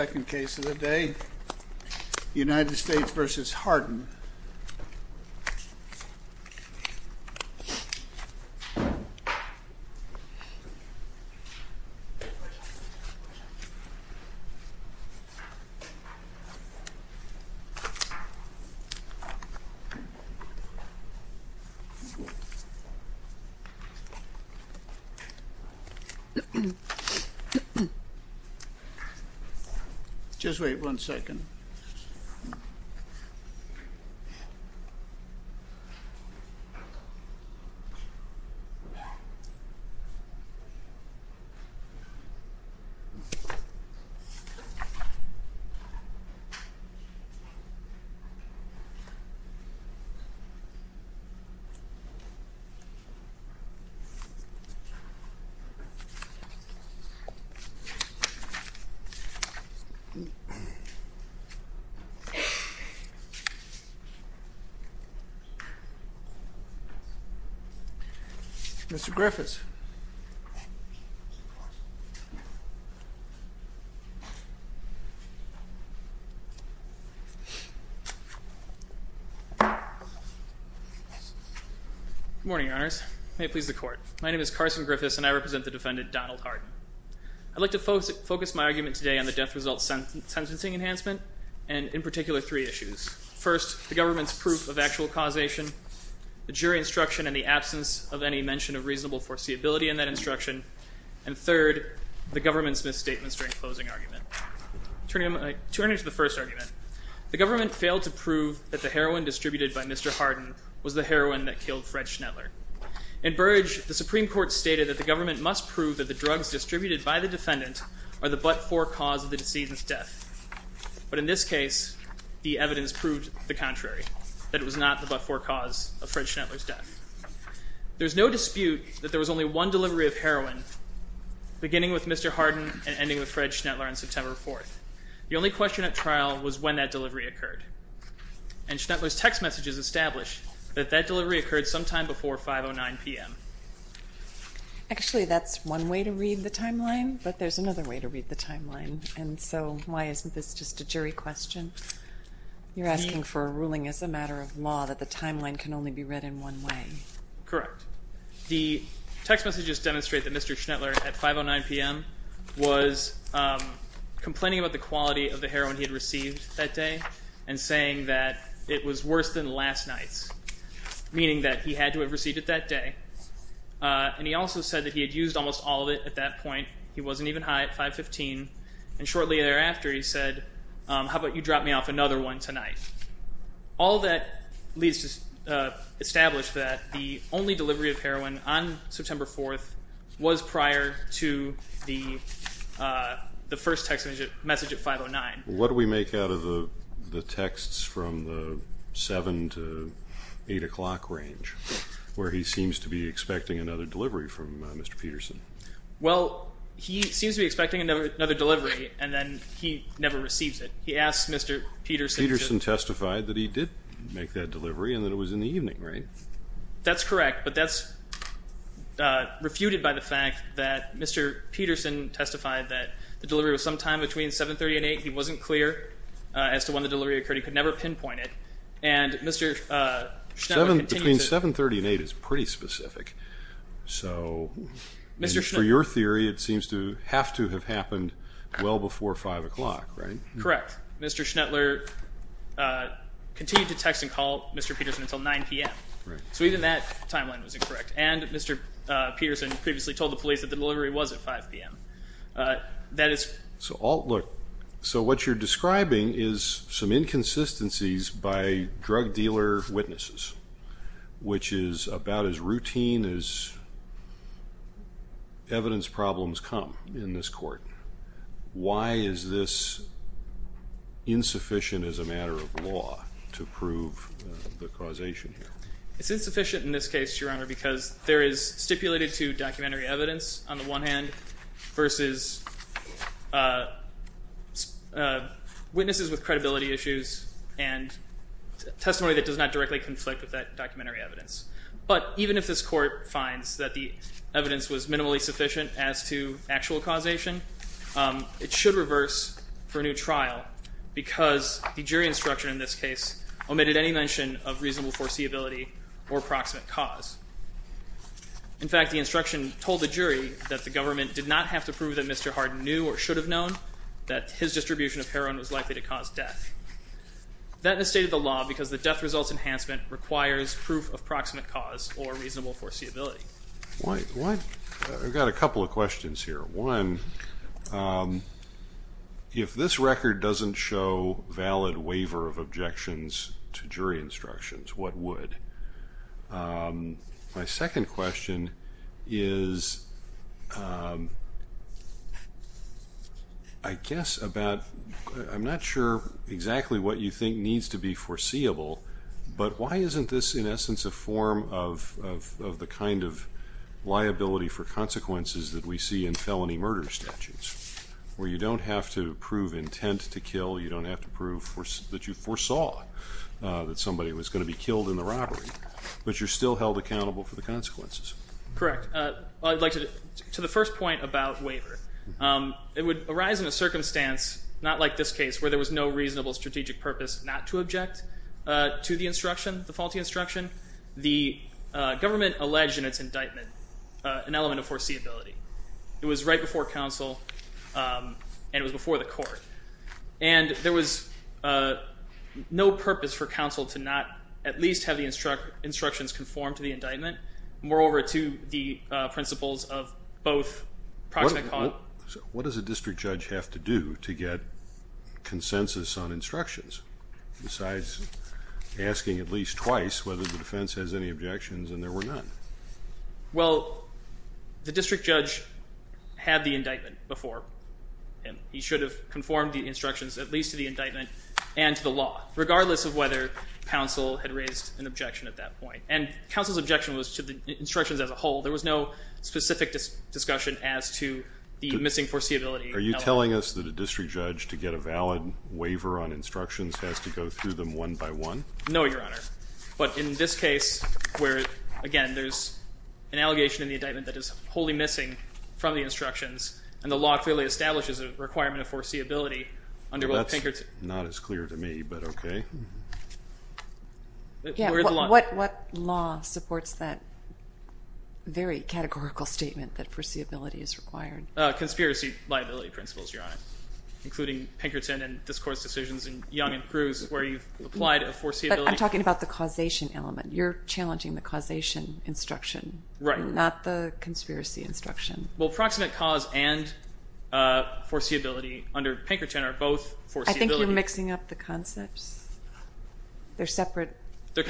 Second case of the day, United States v. Harden. Just wait one second. Mr. Griffiths. Good morning, your honors. May it please the court. My name is Carson Griffiths and I represent the defendant, Donald Harden. I'd like to focus my argument today on the death result sentencing enhancement, and in particular three issues. First, the government's proof of actual causation, the jury instruction and the absence of any mention of reasonable foreseeability in that instruction, and third, the government's misstatements during closing argument. Turning to the first argument, the government failed to prove that the heroin distributed by Mr. Harden was the heroin that killed Fred Schneller. In Burge, the Supreme Court stated that the government must prove that the drugs distributed by the defendant are the but-for cause of the decedent's death. But in this case, the evidence proved the contrary, that it was not the but-for cause of Fred Schneller's death. There's no dispute that there was only one delivery of heroin, beginning with Mr. Harden and ending with Fred Schneller on September 4th. The only question at trial was when that delivery occurred. And Schneller's text messages established that that delivery occurred sometime before 5.09 p.m. Actually, that's one way to read the timeline, but there's another way to read the timeline, and so why isn't this just a jury question? You're asking for a ruling as a matter of law that the timeline can only be read in one way. Correct. The text messages demonstrate that Mr. Schneller, at 5.09 p.m., was complaining about the quality of the heroin he had received that day and saying that it was worse than last night's, meaning that he had to have received it that day. And he also said that he had used almost all of it at that point. He wasn't even high at 5.15, and shortly thereafter he said, how about you drop me off another one tonight? All that leads to establish that the only delivery of heroin on September 4th was prior to the first text message at 5.09. What do we make out of the texts from the 7 to 8 o'clock range where he seems to be expecting another delivery from Mr. Peterson? Well, he seems to be expecting another delivery, and then he never receives it. Peterson testified that he did make that delivery and that it was in the evening, right? That's correct, but that's refuted by the fact that Mr. Peterson testified that the delivery was sometime between 7.30 and 8. He wasn't clear as to when the delivery occurred. He could never pinpoint it. And Mr. Schneller continues to – Between 7.30 and 8 is pretty specific. So for your theory, it seems to have to have happened well before 5 o'clock, right? Correct. Mr. Schneller continued to text and call Mr. Peterson until 9 p.m. So even that timeline was incorrect. And Mr. Peterson previously told the police that the delivery was at 5 p.m. So what you're describing is some inconsistencies by drug dealer witnesses, which is about as routine as evidence problems come in this court. Why is this insufficient as a matter of law to prove the causation here? It's insufficient in this case, Your Honor, because there is stipulated to documentary evidence on the one hand versus witnesses with credibility issues and testimony that does not directly conflict with that documentary evidence. But even if this court finds that the evidence was minimally sufficient as to actual causation, it should reverse for a new trial because the jury instruction in this case omitted any mention of reasonable foreseeability or proximate cause. In fact, the instruction told the jury that the government did not have to prove that Mr. Harden knew or should have known that his distribution of heroin was likely to cause death. That is stated in the law because the death results enhancement requires proof of proximate cause or reasonable foreseeability. I've got a couple of questions here. One, if this record doesn't show valid waiver of objections to jury instructions, what would? My second question is I guess about I'm not sure exactly what you think needs to be foreseeable, but why isn't this in essence a form of the kind of liability for consequences that we see in felony murder statutes where you don't have to prove intent to kill, you don't have to prove that you foresaw that somebody was going to be killed in the robbery, but you're still held accountable for the consequences. Correct. I'd like to the first point about waiver. It would arise in a circumstance not like this case where there was no reasonable strategic purpose not to object to the instruction, the faulty instruction. The government alleged in its indictment an element of foreseeability. It was right before counsel and it was before the court. And there was no purpose for counsel to not at least have the instructions conform to the indictment, moreover to the principles of both proximate cause. What does a district judge have to do to get consensus on instructions besides asking at least twice whether the defense has any objections and there were none? Well, the district judge had the indictment before him. He should have conformed the instructions at least to the indictment and to the law, regardless of whether counsel had raised an objection at that point. And counsel's objection was to the instructions as a whole. There was no specific discussion as to the missing foreseeability element. Are you telling us that a district judge to get a valid waiver on instructions has to go through them one by one? No, Your Honor. But in this case where, again, there's an allegation in the indictment that is wholly missing from the instructions and the law clearly establishes a requirement of foreseeability under both Pinkerton. That's not as clear to me, but okay. What law supports that very categorical statement that foreseeability is required? Conspiracy liability principles, Your Honor, including Pinkerton and this Court's decisions in Young and Cruz where you've applied a foreseeability. But I'm talking about the causation element. You're challenging the causation instruction, not the conspiracy instruction. Well, proximate cause and foreseeability under Pinkerton are both foreseeability. I think you're mixing up the concepts. They're separate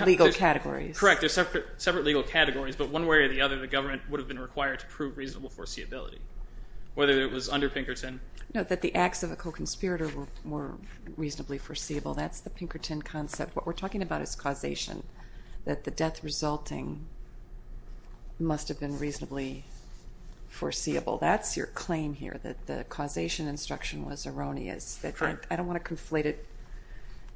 legal categories. Correct. They're separate legal categories. But one way or the other, the government would have been required to prove reasonable foreseeability, whether it was under Pinkerton. No, that the acts of a co-conspirator were reasonably foreseeable. That's the Pinkerton concept. What we're talking about is causation, that the death resulting must have been reasonably foreseeable. That's your claim here, that the causation instruction was erroneous. I don't want to conflate it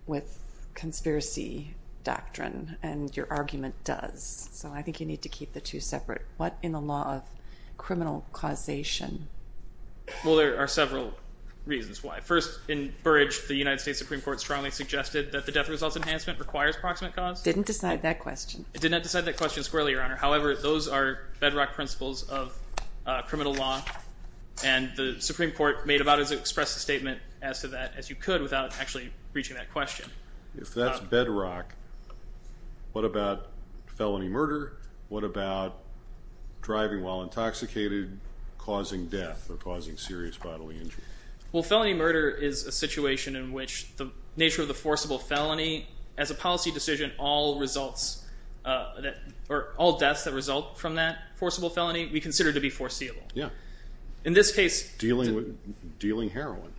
with conspiracy doctrine, and your argument does. So I think you need to keep the two separate. What in the law of criminal causation? Well, there are several reasons why. First, in Burrage, the United States Supreme Court strongly suggested that the death results enhancement requires proximate cause. Didn't decide that question. It did not decide that question squarely, Your Honor. However, those are bedrock principles of criminal law, and the Supreme Court made about it to express a statement as to that as you could without actually reaching that question. If that's bedrock, what about felony murder? What about driving while intoxicated causing death or causing serious bodily injury? Well, felony murder is a situation in which the nature of the forcible felony, as a policy decision, all results or all deaths that result from that forcible felony we consider to be foreseeable. Yeah. In this case. Dealing heroin.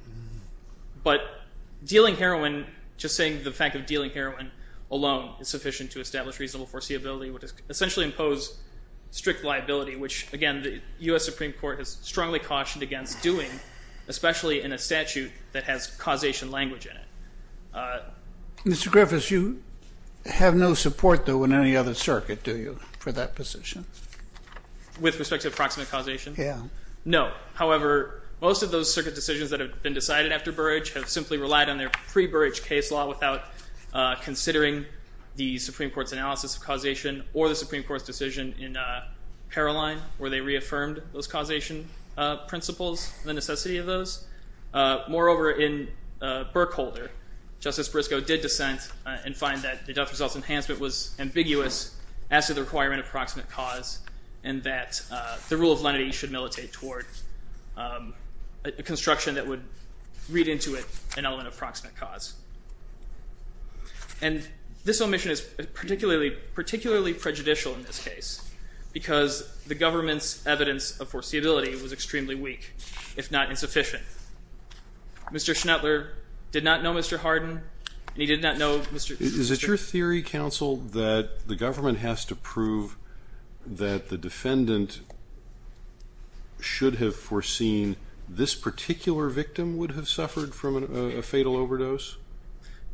But dealing heroin, just saying the fact of dealing heroin alone is sufficient to establish reasonable foreseeability, which essentially impose strict liability, which, again, the U.S. Supreme Court has strongly cautioned against doing, especially in a statute that has causation language in it. Mr. Griffiths, you have no support, though, in any other circuit, do you, for that position? With respect to approximate causation? Yeah. No. However, most of those circuit decisions that have been decided after Burrage have simply relied on their pre-Burrage case law without considering the Supreme Court's analysis of causation or the Supreme Court's decision in Paroline where they reaffirmed those causation principles and the necessity of those. Moreover, in Berkholder, Justice Briscoe did dissent and find that the death results enhancement was ambiguous as to the requirement of proximate cause and that the rule of lenity should militate toward a construction that would read into it an element of proximate cause. And this omission is particularly prejudicial in this case because the government's evidence of foreseeability was extremely weak, if not insufficient. Mr. Schnettler did not know Mr. Hardin, and he did not know Mr. Griffiths. Is it your theory, counsel, that the government has to prove that the defendant should have foreseen this particular victim would have suffered from a fatal overdose?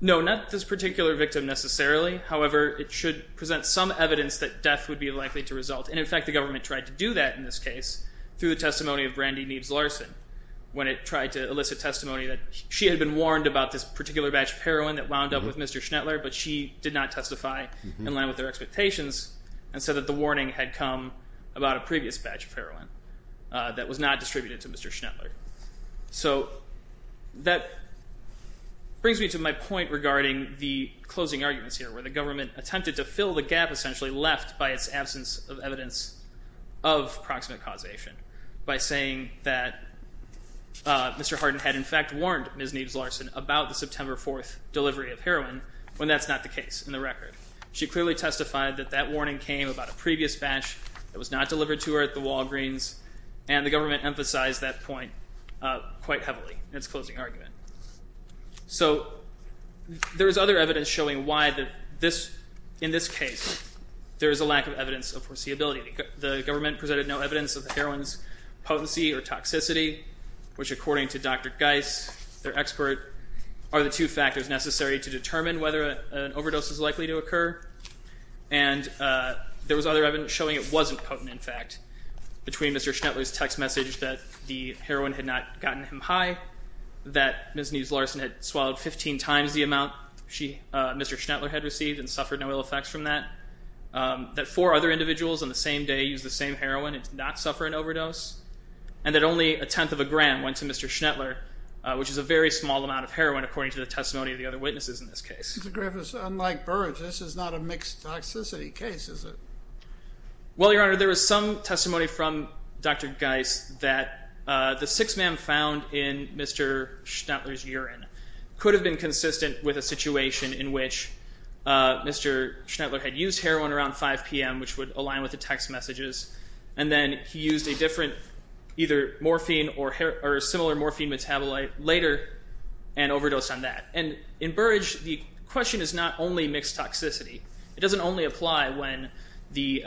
No, not this particular victim necessarily. However, it should present some evidence that death would be likely to result. And, in fact, the government tried to do that in this case through the testimony of Brandy Neves Larson when it tried to elicit testimony that she had been warned about this particular batch of heroin that wound up with Mr. Schnettler, but she did not testify in line with their expectations and said that the warning had come about a previous batch of heroin that was not distributed to Mr. Schnettler. So that brings me to my point regarding the closing arguments here, where the government attempted to fill the gap essentially left by its absence of evidence of proximate causation by saying that Mr. Hardin had, in fact, warned Ms. Neves Larson about the September 4th delivery of heroin when that's not the case in the record. She clearly testified that that warning came about a previous batch that was not delivered to her at the Walgreens, and the government emphasized that point quite heavily in its closing argument. So there is other evidence showing why in this case there is a lack of evidence of foreseeability. The government presented no evidence of the heroin's potency or toxicity, which according to Dr. Geis, their expert, are the two factors necessary to determine whether an overdose is likely to occur. And there was other evidence showing it wasn't potent, in fact, between Mr. Schnettler's text message that the heroin had not gotten him high, that Ms. Neves Larson had swallowed 15 times the amount Mr. Schnettler had received and suffered no ill effects from that, that four other individuals on the same day used the same heroin and did not suffer an overdose, and that only a tenth of a gram went to Mr. Schnettler, which is a very small amount of heroin according to the testimony of the other witnesses in this case. Mr. Griffiths, unlike Burrage, this is not a mixed toxicity case, is it? Well, Your Honor, there is some testimony from Dr. Geis that the six men found in Mr. Schnettler's urine could have been consistent with a situation in which Mr. Schnettler had used heroin around 5 p.m., which would align with the text messages. And then he used a different, either morphine or similar morphine metabolite later and overdosed on that. And in Burrage, the question is not only mixed toxicity. It doesn't only apply when the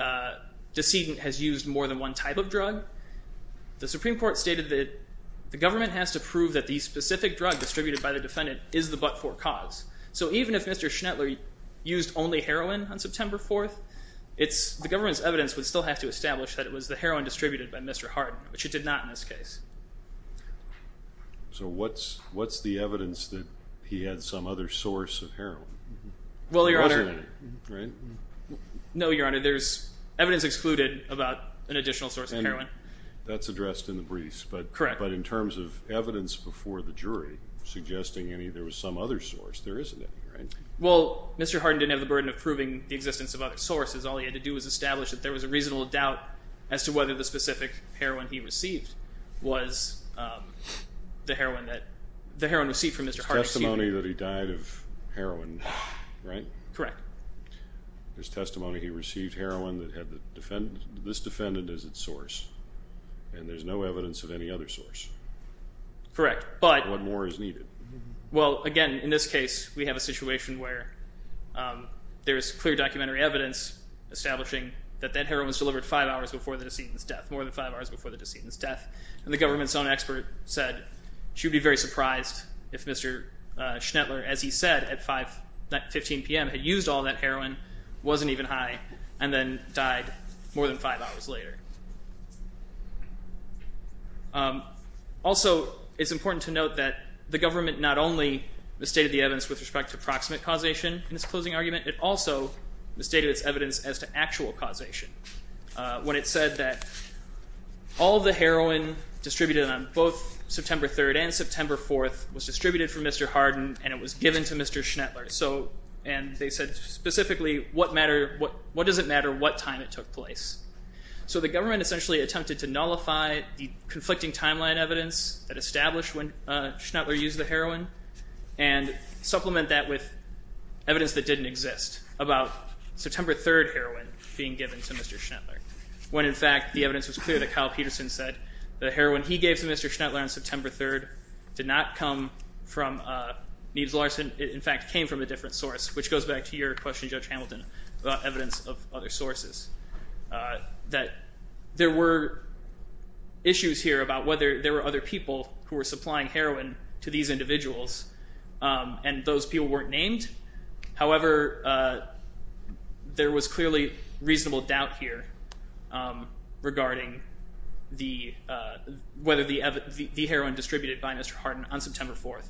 decedent has used more than one type of drug. The Supreme Court stated that the government has to prove that the specific drug distributed by the defendant is the but-for cause. So even if Mr. Schnettler used only heroin on September 4th, the government's evidence would still have to establish that it was the heroin distributed by Mr. Hardin, which it did not in this case. So what's the evidence that he had some other source of heroin? Well, Your Honor, there's evidence excluded about an additional source of heroin. That's addressed in the briefs, but in terms of evidence before the jury suggesting there was some other source, there isn't any, right? Well, Mr. Hardin didn't have the burden of proving the existence of other sources. All he had to do was establish that there was a reasonable doubt as to whether the specific heroin he received was the heroin that the heroin received from Mr. Hardin. It's testimony that he died of heroin, right? Correct. There's testimony he received heroin that had this defendant as its source, and there's no evidence of any other source. Correct. What more is needed? Well, again, in this case, we have a situation where there is clear documentary evidence establishing that that heroin was delivered five hours before the decedent's death, more than five hours before the decedent's death, and the government's own expert said she would be very surprised if Mr. Schnettler, as he said, at 5-15 p.m. had used all that heroin, wasn't even high, and then died more than five hours later. Also, it's important to note that the government not only misstated the evidence with respect to proximate causation in its closing argument, it also misstated its evidence as to actual causation when it said that all the heroin distributed on both September 3rd and September 4th was distributed from Mr. Hardin and it was given to Mr. Schnettler, and they said specifically, what does it matter what time it took place? So the government essentially attempted to nullify the conflicting timeline evidence that established when Schnettler used the heroin and supplement that with evidence that didn't exist about September 3rd heroin being given to Mr. Schnettler, when in fact the evidence was clear that Kyle Peterson said the heroin he gave to Mr. Schnettler on September 3rd did not come from Neves-Larsen, it in fact came from a different source, which goes back to your question, Judge Hamilton, about evidence of other sources, that there were issues here about whether there were other people who were supplying heroin to these individuals and those people weren't named. However, there was clearly reasonable doubt here regarding whether the heroin distributed by Mr. Hardin on September 4th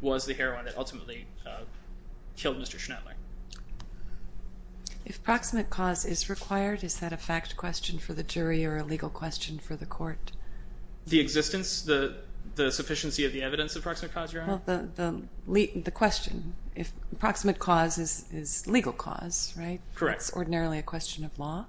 was the heroin that ultimately killed Mr. Schnettler. If proximate cause is required, is that a fact question for the jury or a legal question for the court? The existence, the sufficiency of the evidence of proximate cause, Your Honor? Well, the question, if proximate cause is legal cause, right? Correct. That's ordinarily a question of law?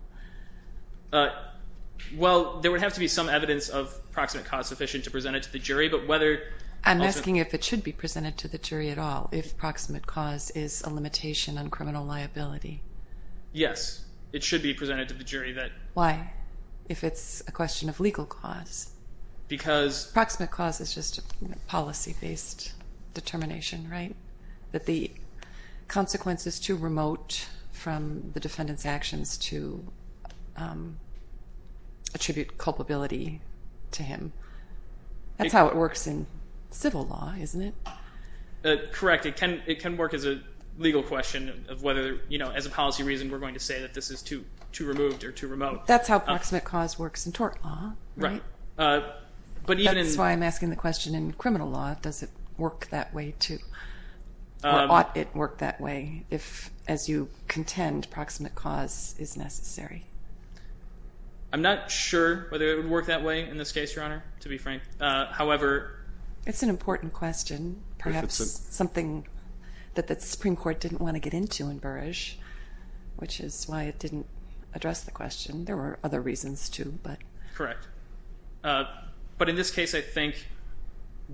Well, there would have to be some evidence of proximate cause sufficient to present it to the jury, but whether... I'm asking if it should be presented to the jury at all, if proximate cause is a limitation on criminal liability. Yes, it should be presented to the jury that... Why? If it's a question of legal cause? Because... Proximate cause is just a policy-based determination, right? That the consequence is too remote from the defendant's actions to attribute culpability to him. That's how it works in civil law, isn't it? Correct. It can work as a legal question of whether, as a policy reason, we're going to say that this is too removed or too remote. That's how proximate cause works in tort law, right? Right. That's why I'm asking the question, in criminal law, does it work that way, too? Or ought it work that way, if, as you contend, proximate cause is necessary? I'm not sure whether it would work that way in this case, Your Honor, to be frank. However... It's an important question, perhaps something that the Supreme Court didn't want to get into in Burish, which is why it didn't address the question. There were other reasons, too, but... Correct. But in this case, I think,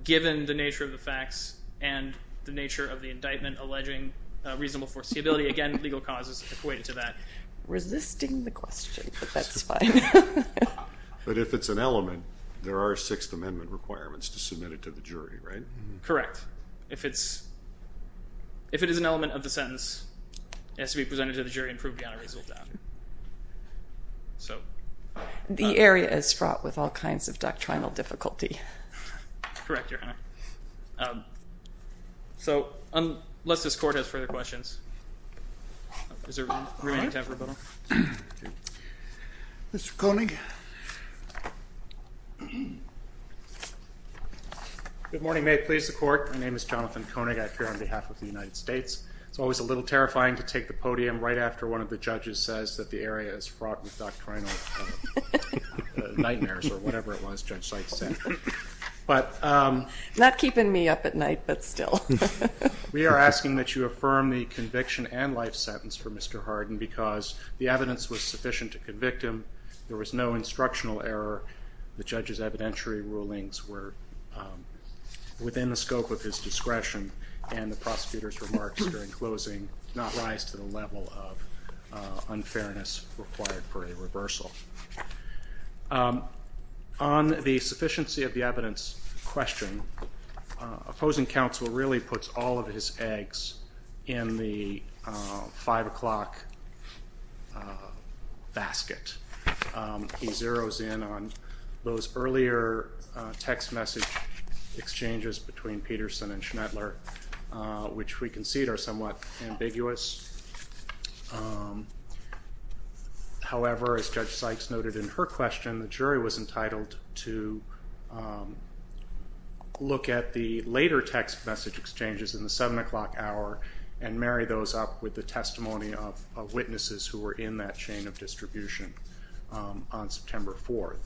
given the nature of the facts and the nature of the indictment alleging reasonable foreseeability, again, legal cause is equated to that. I'm resisting the question, but that's fine. But if it's an element, there are Sixth Amendment requirements to submit it to the jury, right? Correct. If it's... If it is an element of the sentence, it has to be presented to the jury and proved beyond a reasonable doubt. So... The area is fraught with all kinds of doctrinal difficulty. Correct, Your Honor. So, unless this Court has further questions. Is there remaining time for rebuttal? Mr. Koenig. Good morning. May it please the Court. My name is Jonathan Koenig. I appear on behalf of the United States. It's always a little terrifying to take the podium right after one of the judges says that the area is fraught with doctrinal nightmares or whatever it was Judge Seitz said. Not keeping me up at night, but still. We are asking that you affirm the conviction and life sentence for Mr. Hardin because the evidence was sufficient to convict him. There was no instructional error. The judge's evidentiary rulings were within the scope of his discretion, and the prosecutor's remarks during closing did not rise to the level of unfairness required for a reversal. On the sufficiency of the evidence question, opposing counsel really puts all of his eggs in the 5 o'clock basket. He zeroes in on those earlier text message exchanges between Peterson and Schnettler, which we concede are somewhat ambiguous. However, as Judge Seitz noted in her question, the jury was entitled to look at the later text message exchanges in the 7 o'clock hour and marry those up with the testimony of witnesses who were in that chain of distribution on September 4th.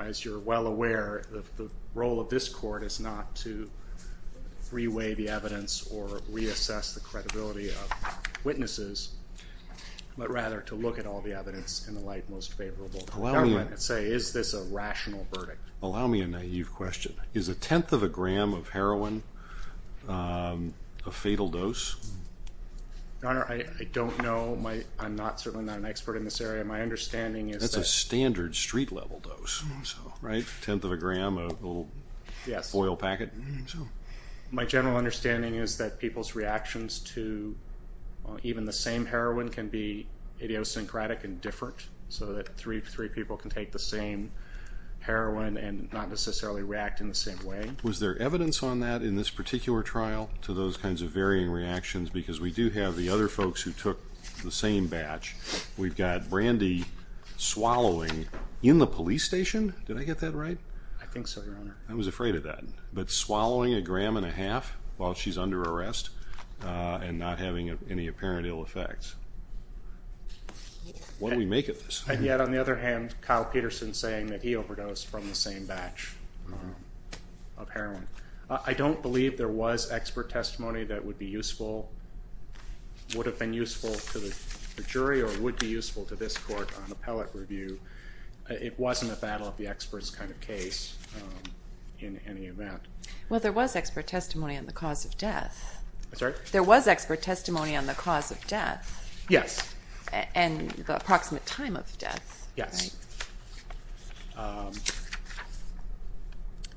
As you're well aware, the role of this court is not to freeway the evidence or reassess the credibility of witnesses, but rather to look at all the evidence in the light most favorable to the government and say, is this a rational verdict? Allow me a naive question. Is a tenth of a gram of heroin a fatal dose? Your Honor, I don't know. I'm certainly not an expert in this area. My understanding is that... That's a standard street-level dose. Right? A tenth of a gram, a little foil packet. My general understanding is that people's reactions to even the same heroin can be idiosyncratic and different, so that three people can take the same heroin and not necessarily react in the same way. Was there evidence on that in this particular trial, to those kinds of varying reactions? Because we do have the other folks who took the same batch. We've got Brandy swallowing in the police station. Did I get that right? I think so, Your Honor. I was afraid of that. But swallowing a gram and a half while she's under arrest and not having any apparent ill effects. What do we make of this? And yet, on the other hand, Kyle Peterson saying that he overdosed from the same batch of heroin. I don't believe there was expert testimony that would be useful, would have been useful to the jury or would be useful to this court on appellate review. It wasn't a battle of the experts kind of case in any event. Well, there was expert testimony on the cause of death. I'm sorry? There was expert testimony on the cause of death. Yes. And the approximate time of death. Yes.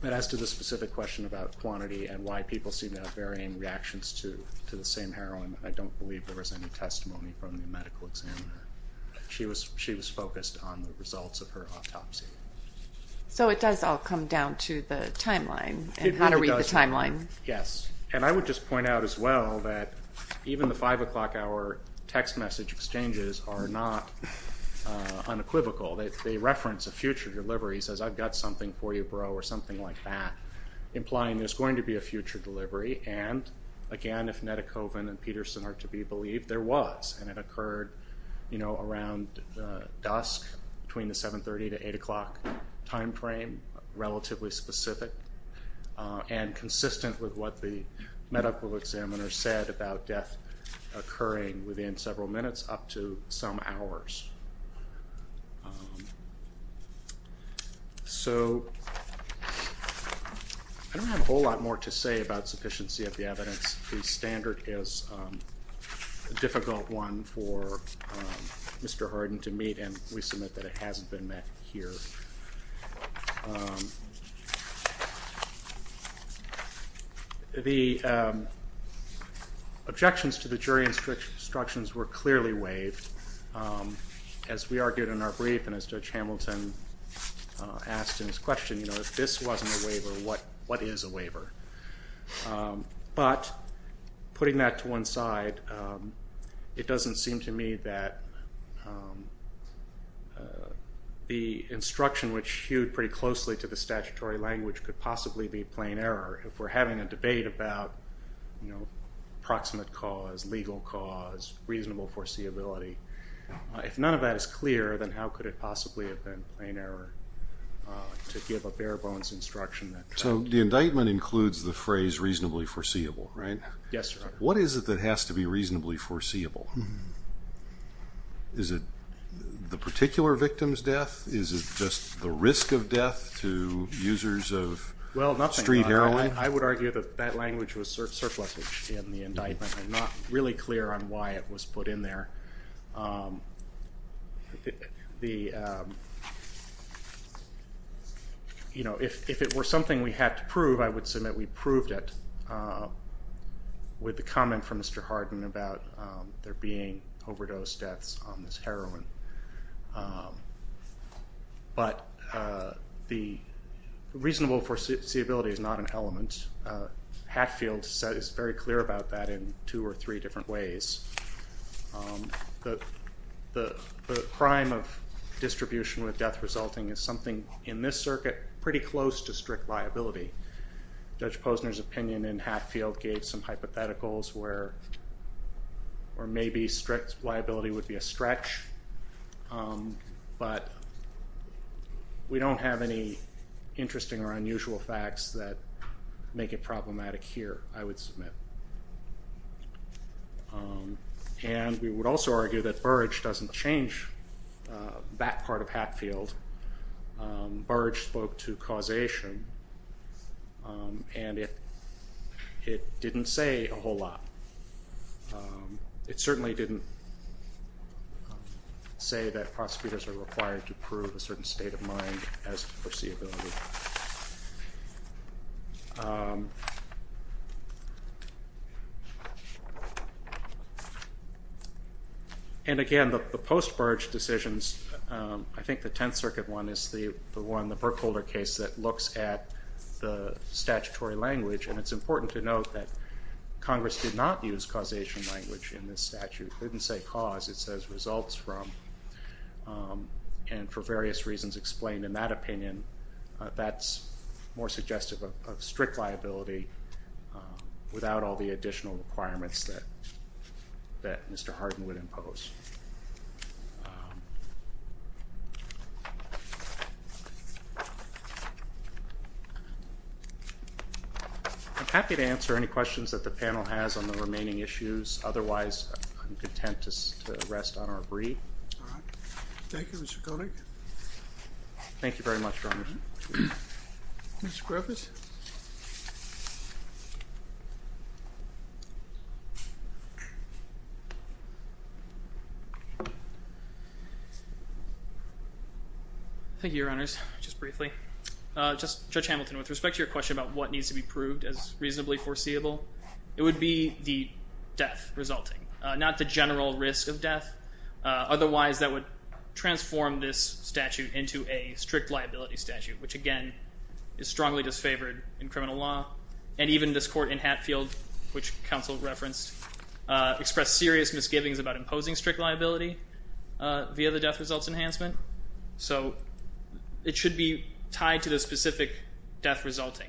And as to the specific question about quantity and why people seem to have varying reactions to the same heroin, I don't believe there was any testimony from the medical examiner. She was focused on the results of her autopsy. So it does all come down to the timeline and how to read the timeline. Yes. And I would just point out as well that even the 5 o'clock hour text message exchanges are not unequivocal. They reference a future delivery. He says, I've got something for you, bro, or something like that, implying there's going to be a future delivery. And, again, if Nedekovin and Peterson are to be believed, there was. And it occurred, you know, around dusk, between the 730 to 8 o'clock time frame, relatively specific, and consistent with what the medical examiner said about death occurring within several minutes up to some hours. So I don't have a whole lot more to say about sufficiency of the evidence. The standard is a difficult one for Mr. Hardin to meet, and we submit that it hasn't been met here. The objections to the jury instructions were clearly waived, as we argued in our brief and as Judge Hamilton asked in his question, you know, if this wasn't a waiver, what is a waiver? But, putting that to one side, it doesn't seem to me that the instruction, which hewed pretty closely to the statutory language, could possibly be plain error. If we're having a debate about, you know, proximate cause, legal cause, reasonable foreseeability, if none of that is clear, then how could it possibly have been plain error to give a bare bones instruction? So the indictment includes the phrase reasonably foreseeable, right? Yes, Your Honor. What is it that has to be reasonably foreseeable? Is it the particular victim's death? Is it just the risk of death to users of street heroin? Well, nothing like that. I would argue that that language was surplusage in the indictment. I'm not really clear on why it was put in there. The, you know, if it were something we had to prove, I would submit we proved it with the comment from Mr. Hardin about there being overdose deaths on this heroin. But the reasonable foreseeability is not an element. Hatfield is very clear about that in two or three different ways. The crime of distribution with death resulting is something in this circuit pretty close to strict liability. Judge Posner's opinion in Hatfield gave some hypotheticals where maybe strict liability would be a stretch, but we don't have any interesting or unusual facts that make it problematic here, I would submit. And we would also argue that Burrage doesn't change that part of Hatfield. Burrage spoke to causation, and it didn't say a whole lot. It certainly didn't say that prosecutors are required to prove a certain state of mind as to foreseeability. And again, the post-Burrage decisions, I think the Tenth Circuit one is the one, the Burkholder case that looks at the statutory language, and it's important to note that Congress did not use causation language in this statute. It didn't say cause, it says results from, and for various reasons explained in that opinion, that's more suggestive of strict liability without all the additional requirements that Mr. Hardin would impose. I'm happy to answer any questions that the panel has on the remaining issues. Otherwise, I'm content to rest on our brief. Thank you, Mr. Koenig. Thank you very much, Your Honor. Mr. Griffiths. Thank you, Your Honors. Just briefly. Judge Hamilton, with respect to your question about what needs to be proved as reasonably foreseeable, it would be the death resulting, not the general risk of death. Otherwise, that would transform this statute into a strict liability statute, which again is strongly disfavored in criminal law. And even this court in Hatfield, which counsel referenced, expressed serious misgivings about imposing strict liability via the death results enhancement. So it should be tied to the specific death resulting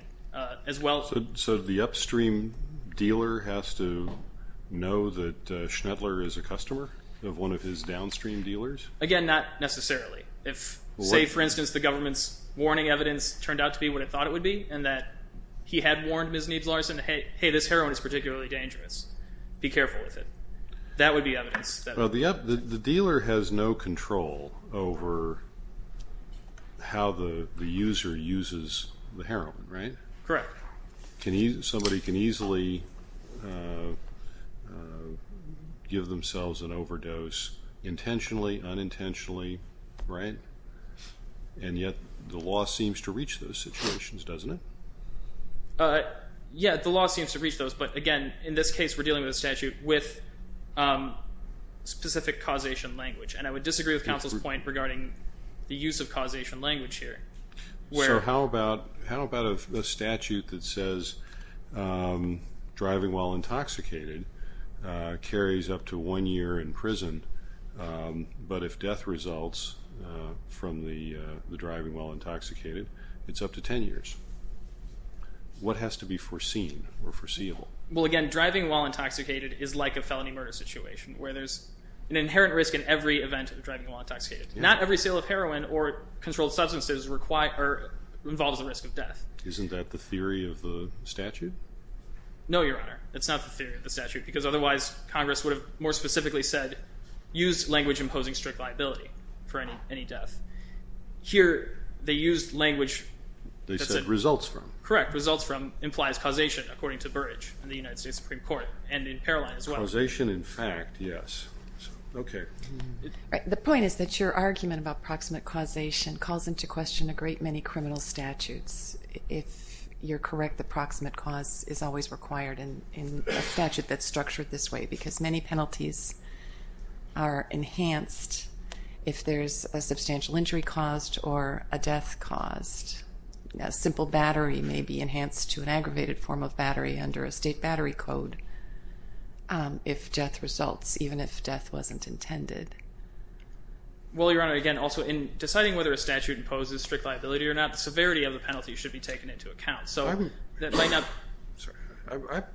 as well. So the upstream dealer has to know that Schnedler is a customer of one of his downstream dealers? Again, not necessarily. If, say, for instance, the government's warning evidence turned out to be what it thought it would be, and that he had warned Ms. Neebs-Larsen, hey, this heroin is particularly dangerous. Be careful with it. That would be evidence. The dealer has no control over how the user uses the heroin, right? Correct. Somebody can easily give themselves an overdose intentionally, unintentionally, right? And yet the law seems to reach those situations, doesn't it? Yeah, the law seems to reach those. But, again, in this case we're dealing with a statute with specific causation language, and I would disagree with counsel's point regarding the use of causation language here. So how about a statute that says driving while intoxicated carries up to one year in prison, but if death results from the driving while intoxicated, it's up to 10 years? What has to be foreseen or foreseeable? Well, again, driving while intoxicated is like a felony murder situation where there's an inherent risk in every event of driving while intoxicated. Not every sale of heroin or controlled substances involves the risk of death. Isn't that the theory of the statute? No, Your Honor. It's not the theory of the statute because otherwise Congress would have more specifically said use language imposing strict liability for any death. Here they used language that said results from. Correct. Results from implies causation according to Burrage in the United States Supreme Court and in Paroline as well. Causation in fact, yes. Okay. The point is that your argument about proximate causation calls into question a great many criminal statutes. If you're correct, the proximate cause is always required in a statute that's structured this way because many penalties are enhanced if there's a substantial injury caused or a death caused. A simple battery may be enhanced to an aggravated form of battery under a state battery code if death results, even if death wasn't intended. Well, Your Honor, again, also in deciding whether a statute imposes strict liability or not, the severity of the penalty should be taken into account.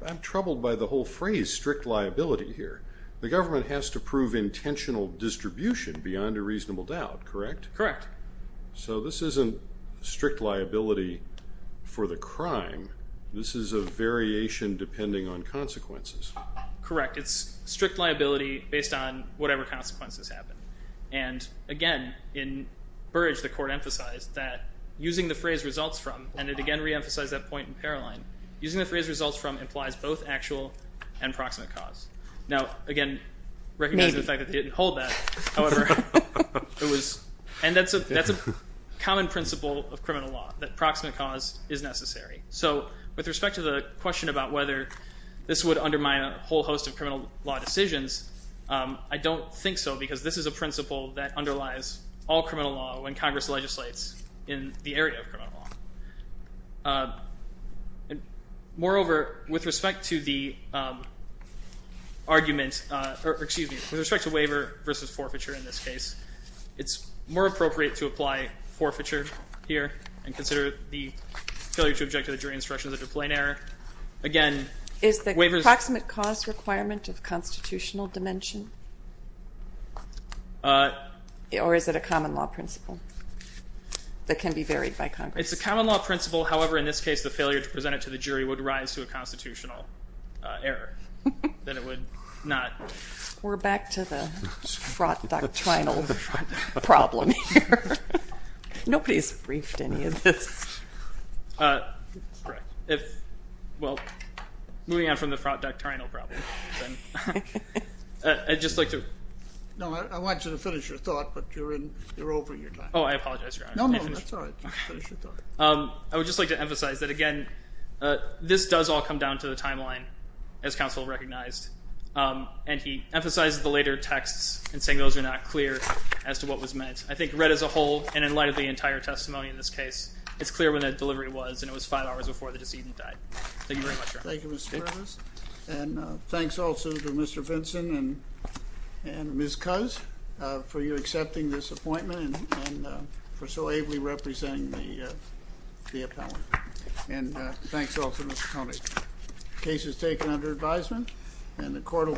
I'm troubled by the whole phrase strict liability here. The government has to prove intentional distribution beyond a reasonable doubt, correct? Correct. So this isn't strict liability for the crime. This is a variation depending on consequences. Correct. It's strict liability based on whatever consequences happen. And, again, in Burrage, the court emphasized that using the phrase results from, and it again reemphasized that point in Paroline, using the phrase results from implies both actual and proximate cause. Now, again, recognize the fact that they didn't hold that. However, it was, and that's a common principle of criminal law, that proximate cause is necessary. So with respect to the question about whether this would undermine a whole host of criminal law decisions, I don't think so because this is a principle that underlies all criminal law when Congress legislates in the area of criminal law. Moreover, with respect to the argument, or excuse me, with respect to waiver versus forfeiture in this case, it's more appropriate to apply forfeiture here and consider the failure to object to the jury instructions as a plain error. Is the proximate cause requirement of constitutional dimension? Or is it a common law principle that can be varied by Congress? It's a common law principle. However, in this case, the failure to present it to the jury would rise to a constitutional error. Then it would not. We're back to the fraught doctrinal problem here. Nobody's briefed any of this. Correct. Well, moving on from the fraught doctrinal problem, I'd just like to. No, I want you to finish your thought, but you're over your time. Oh, I apologize, Your Honor. No, no, that's all right. Finish your thought. I would just like to emphasize that, again, this does all come down to the timeline, as counsel recognized, and he emphasized the later texts in saying those are not clear as to what was meant. I think read as a whole, and in light of the entire testimony in this case, it's clear when that delivery was, and it was five hours before the decedent died. Thank you very much, Your Honor. Thank you, Mr. Fairness. And thanks also to Mr. Vinson and Ms. Coz for you accepting this appointment and for so ably representing the appellant. And thanks also, Mr. Connally. The case is taken under advisement, and the court will.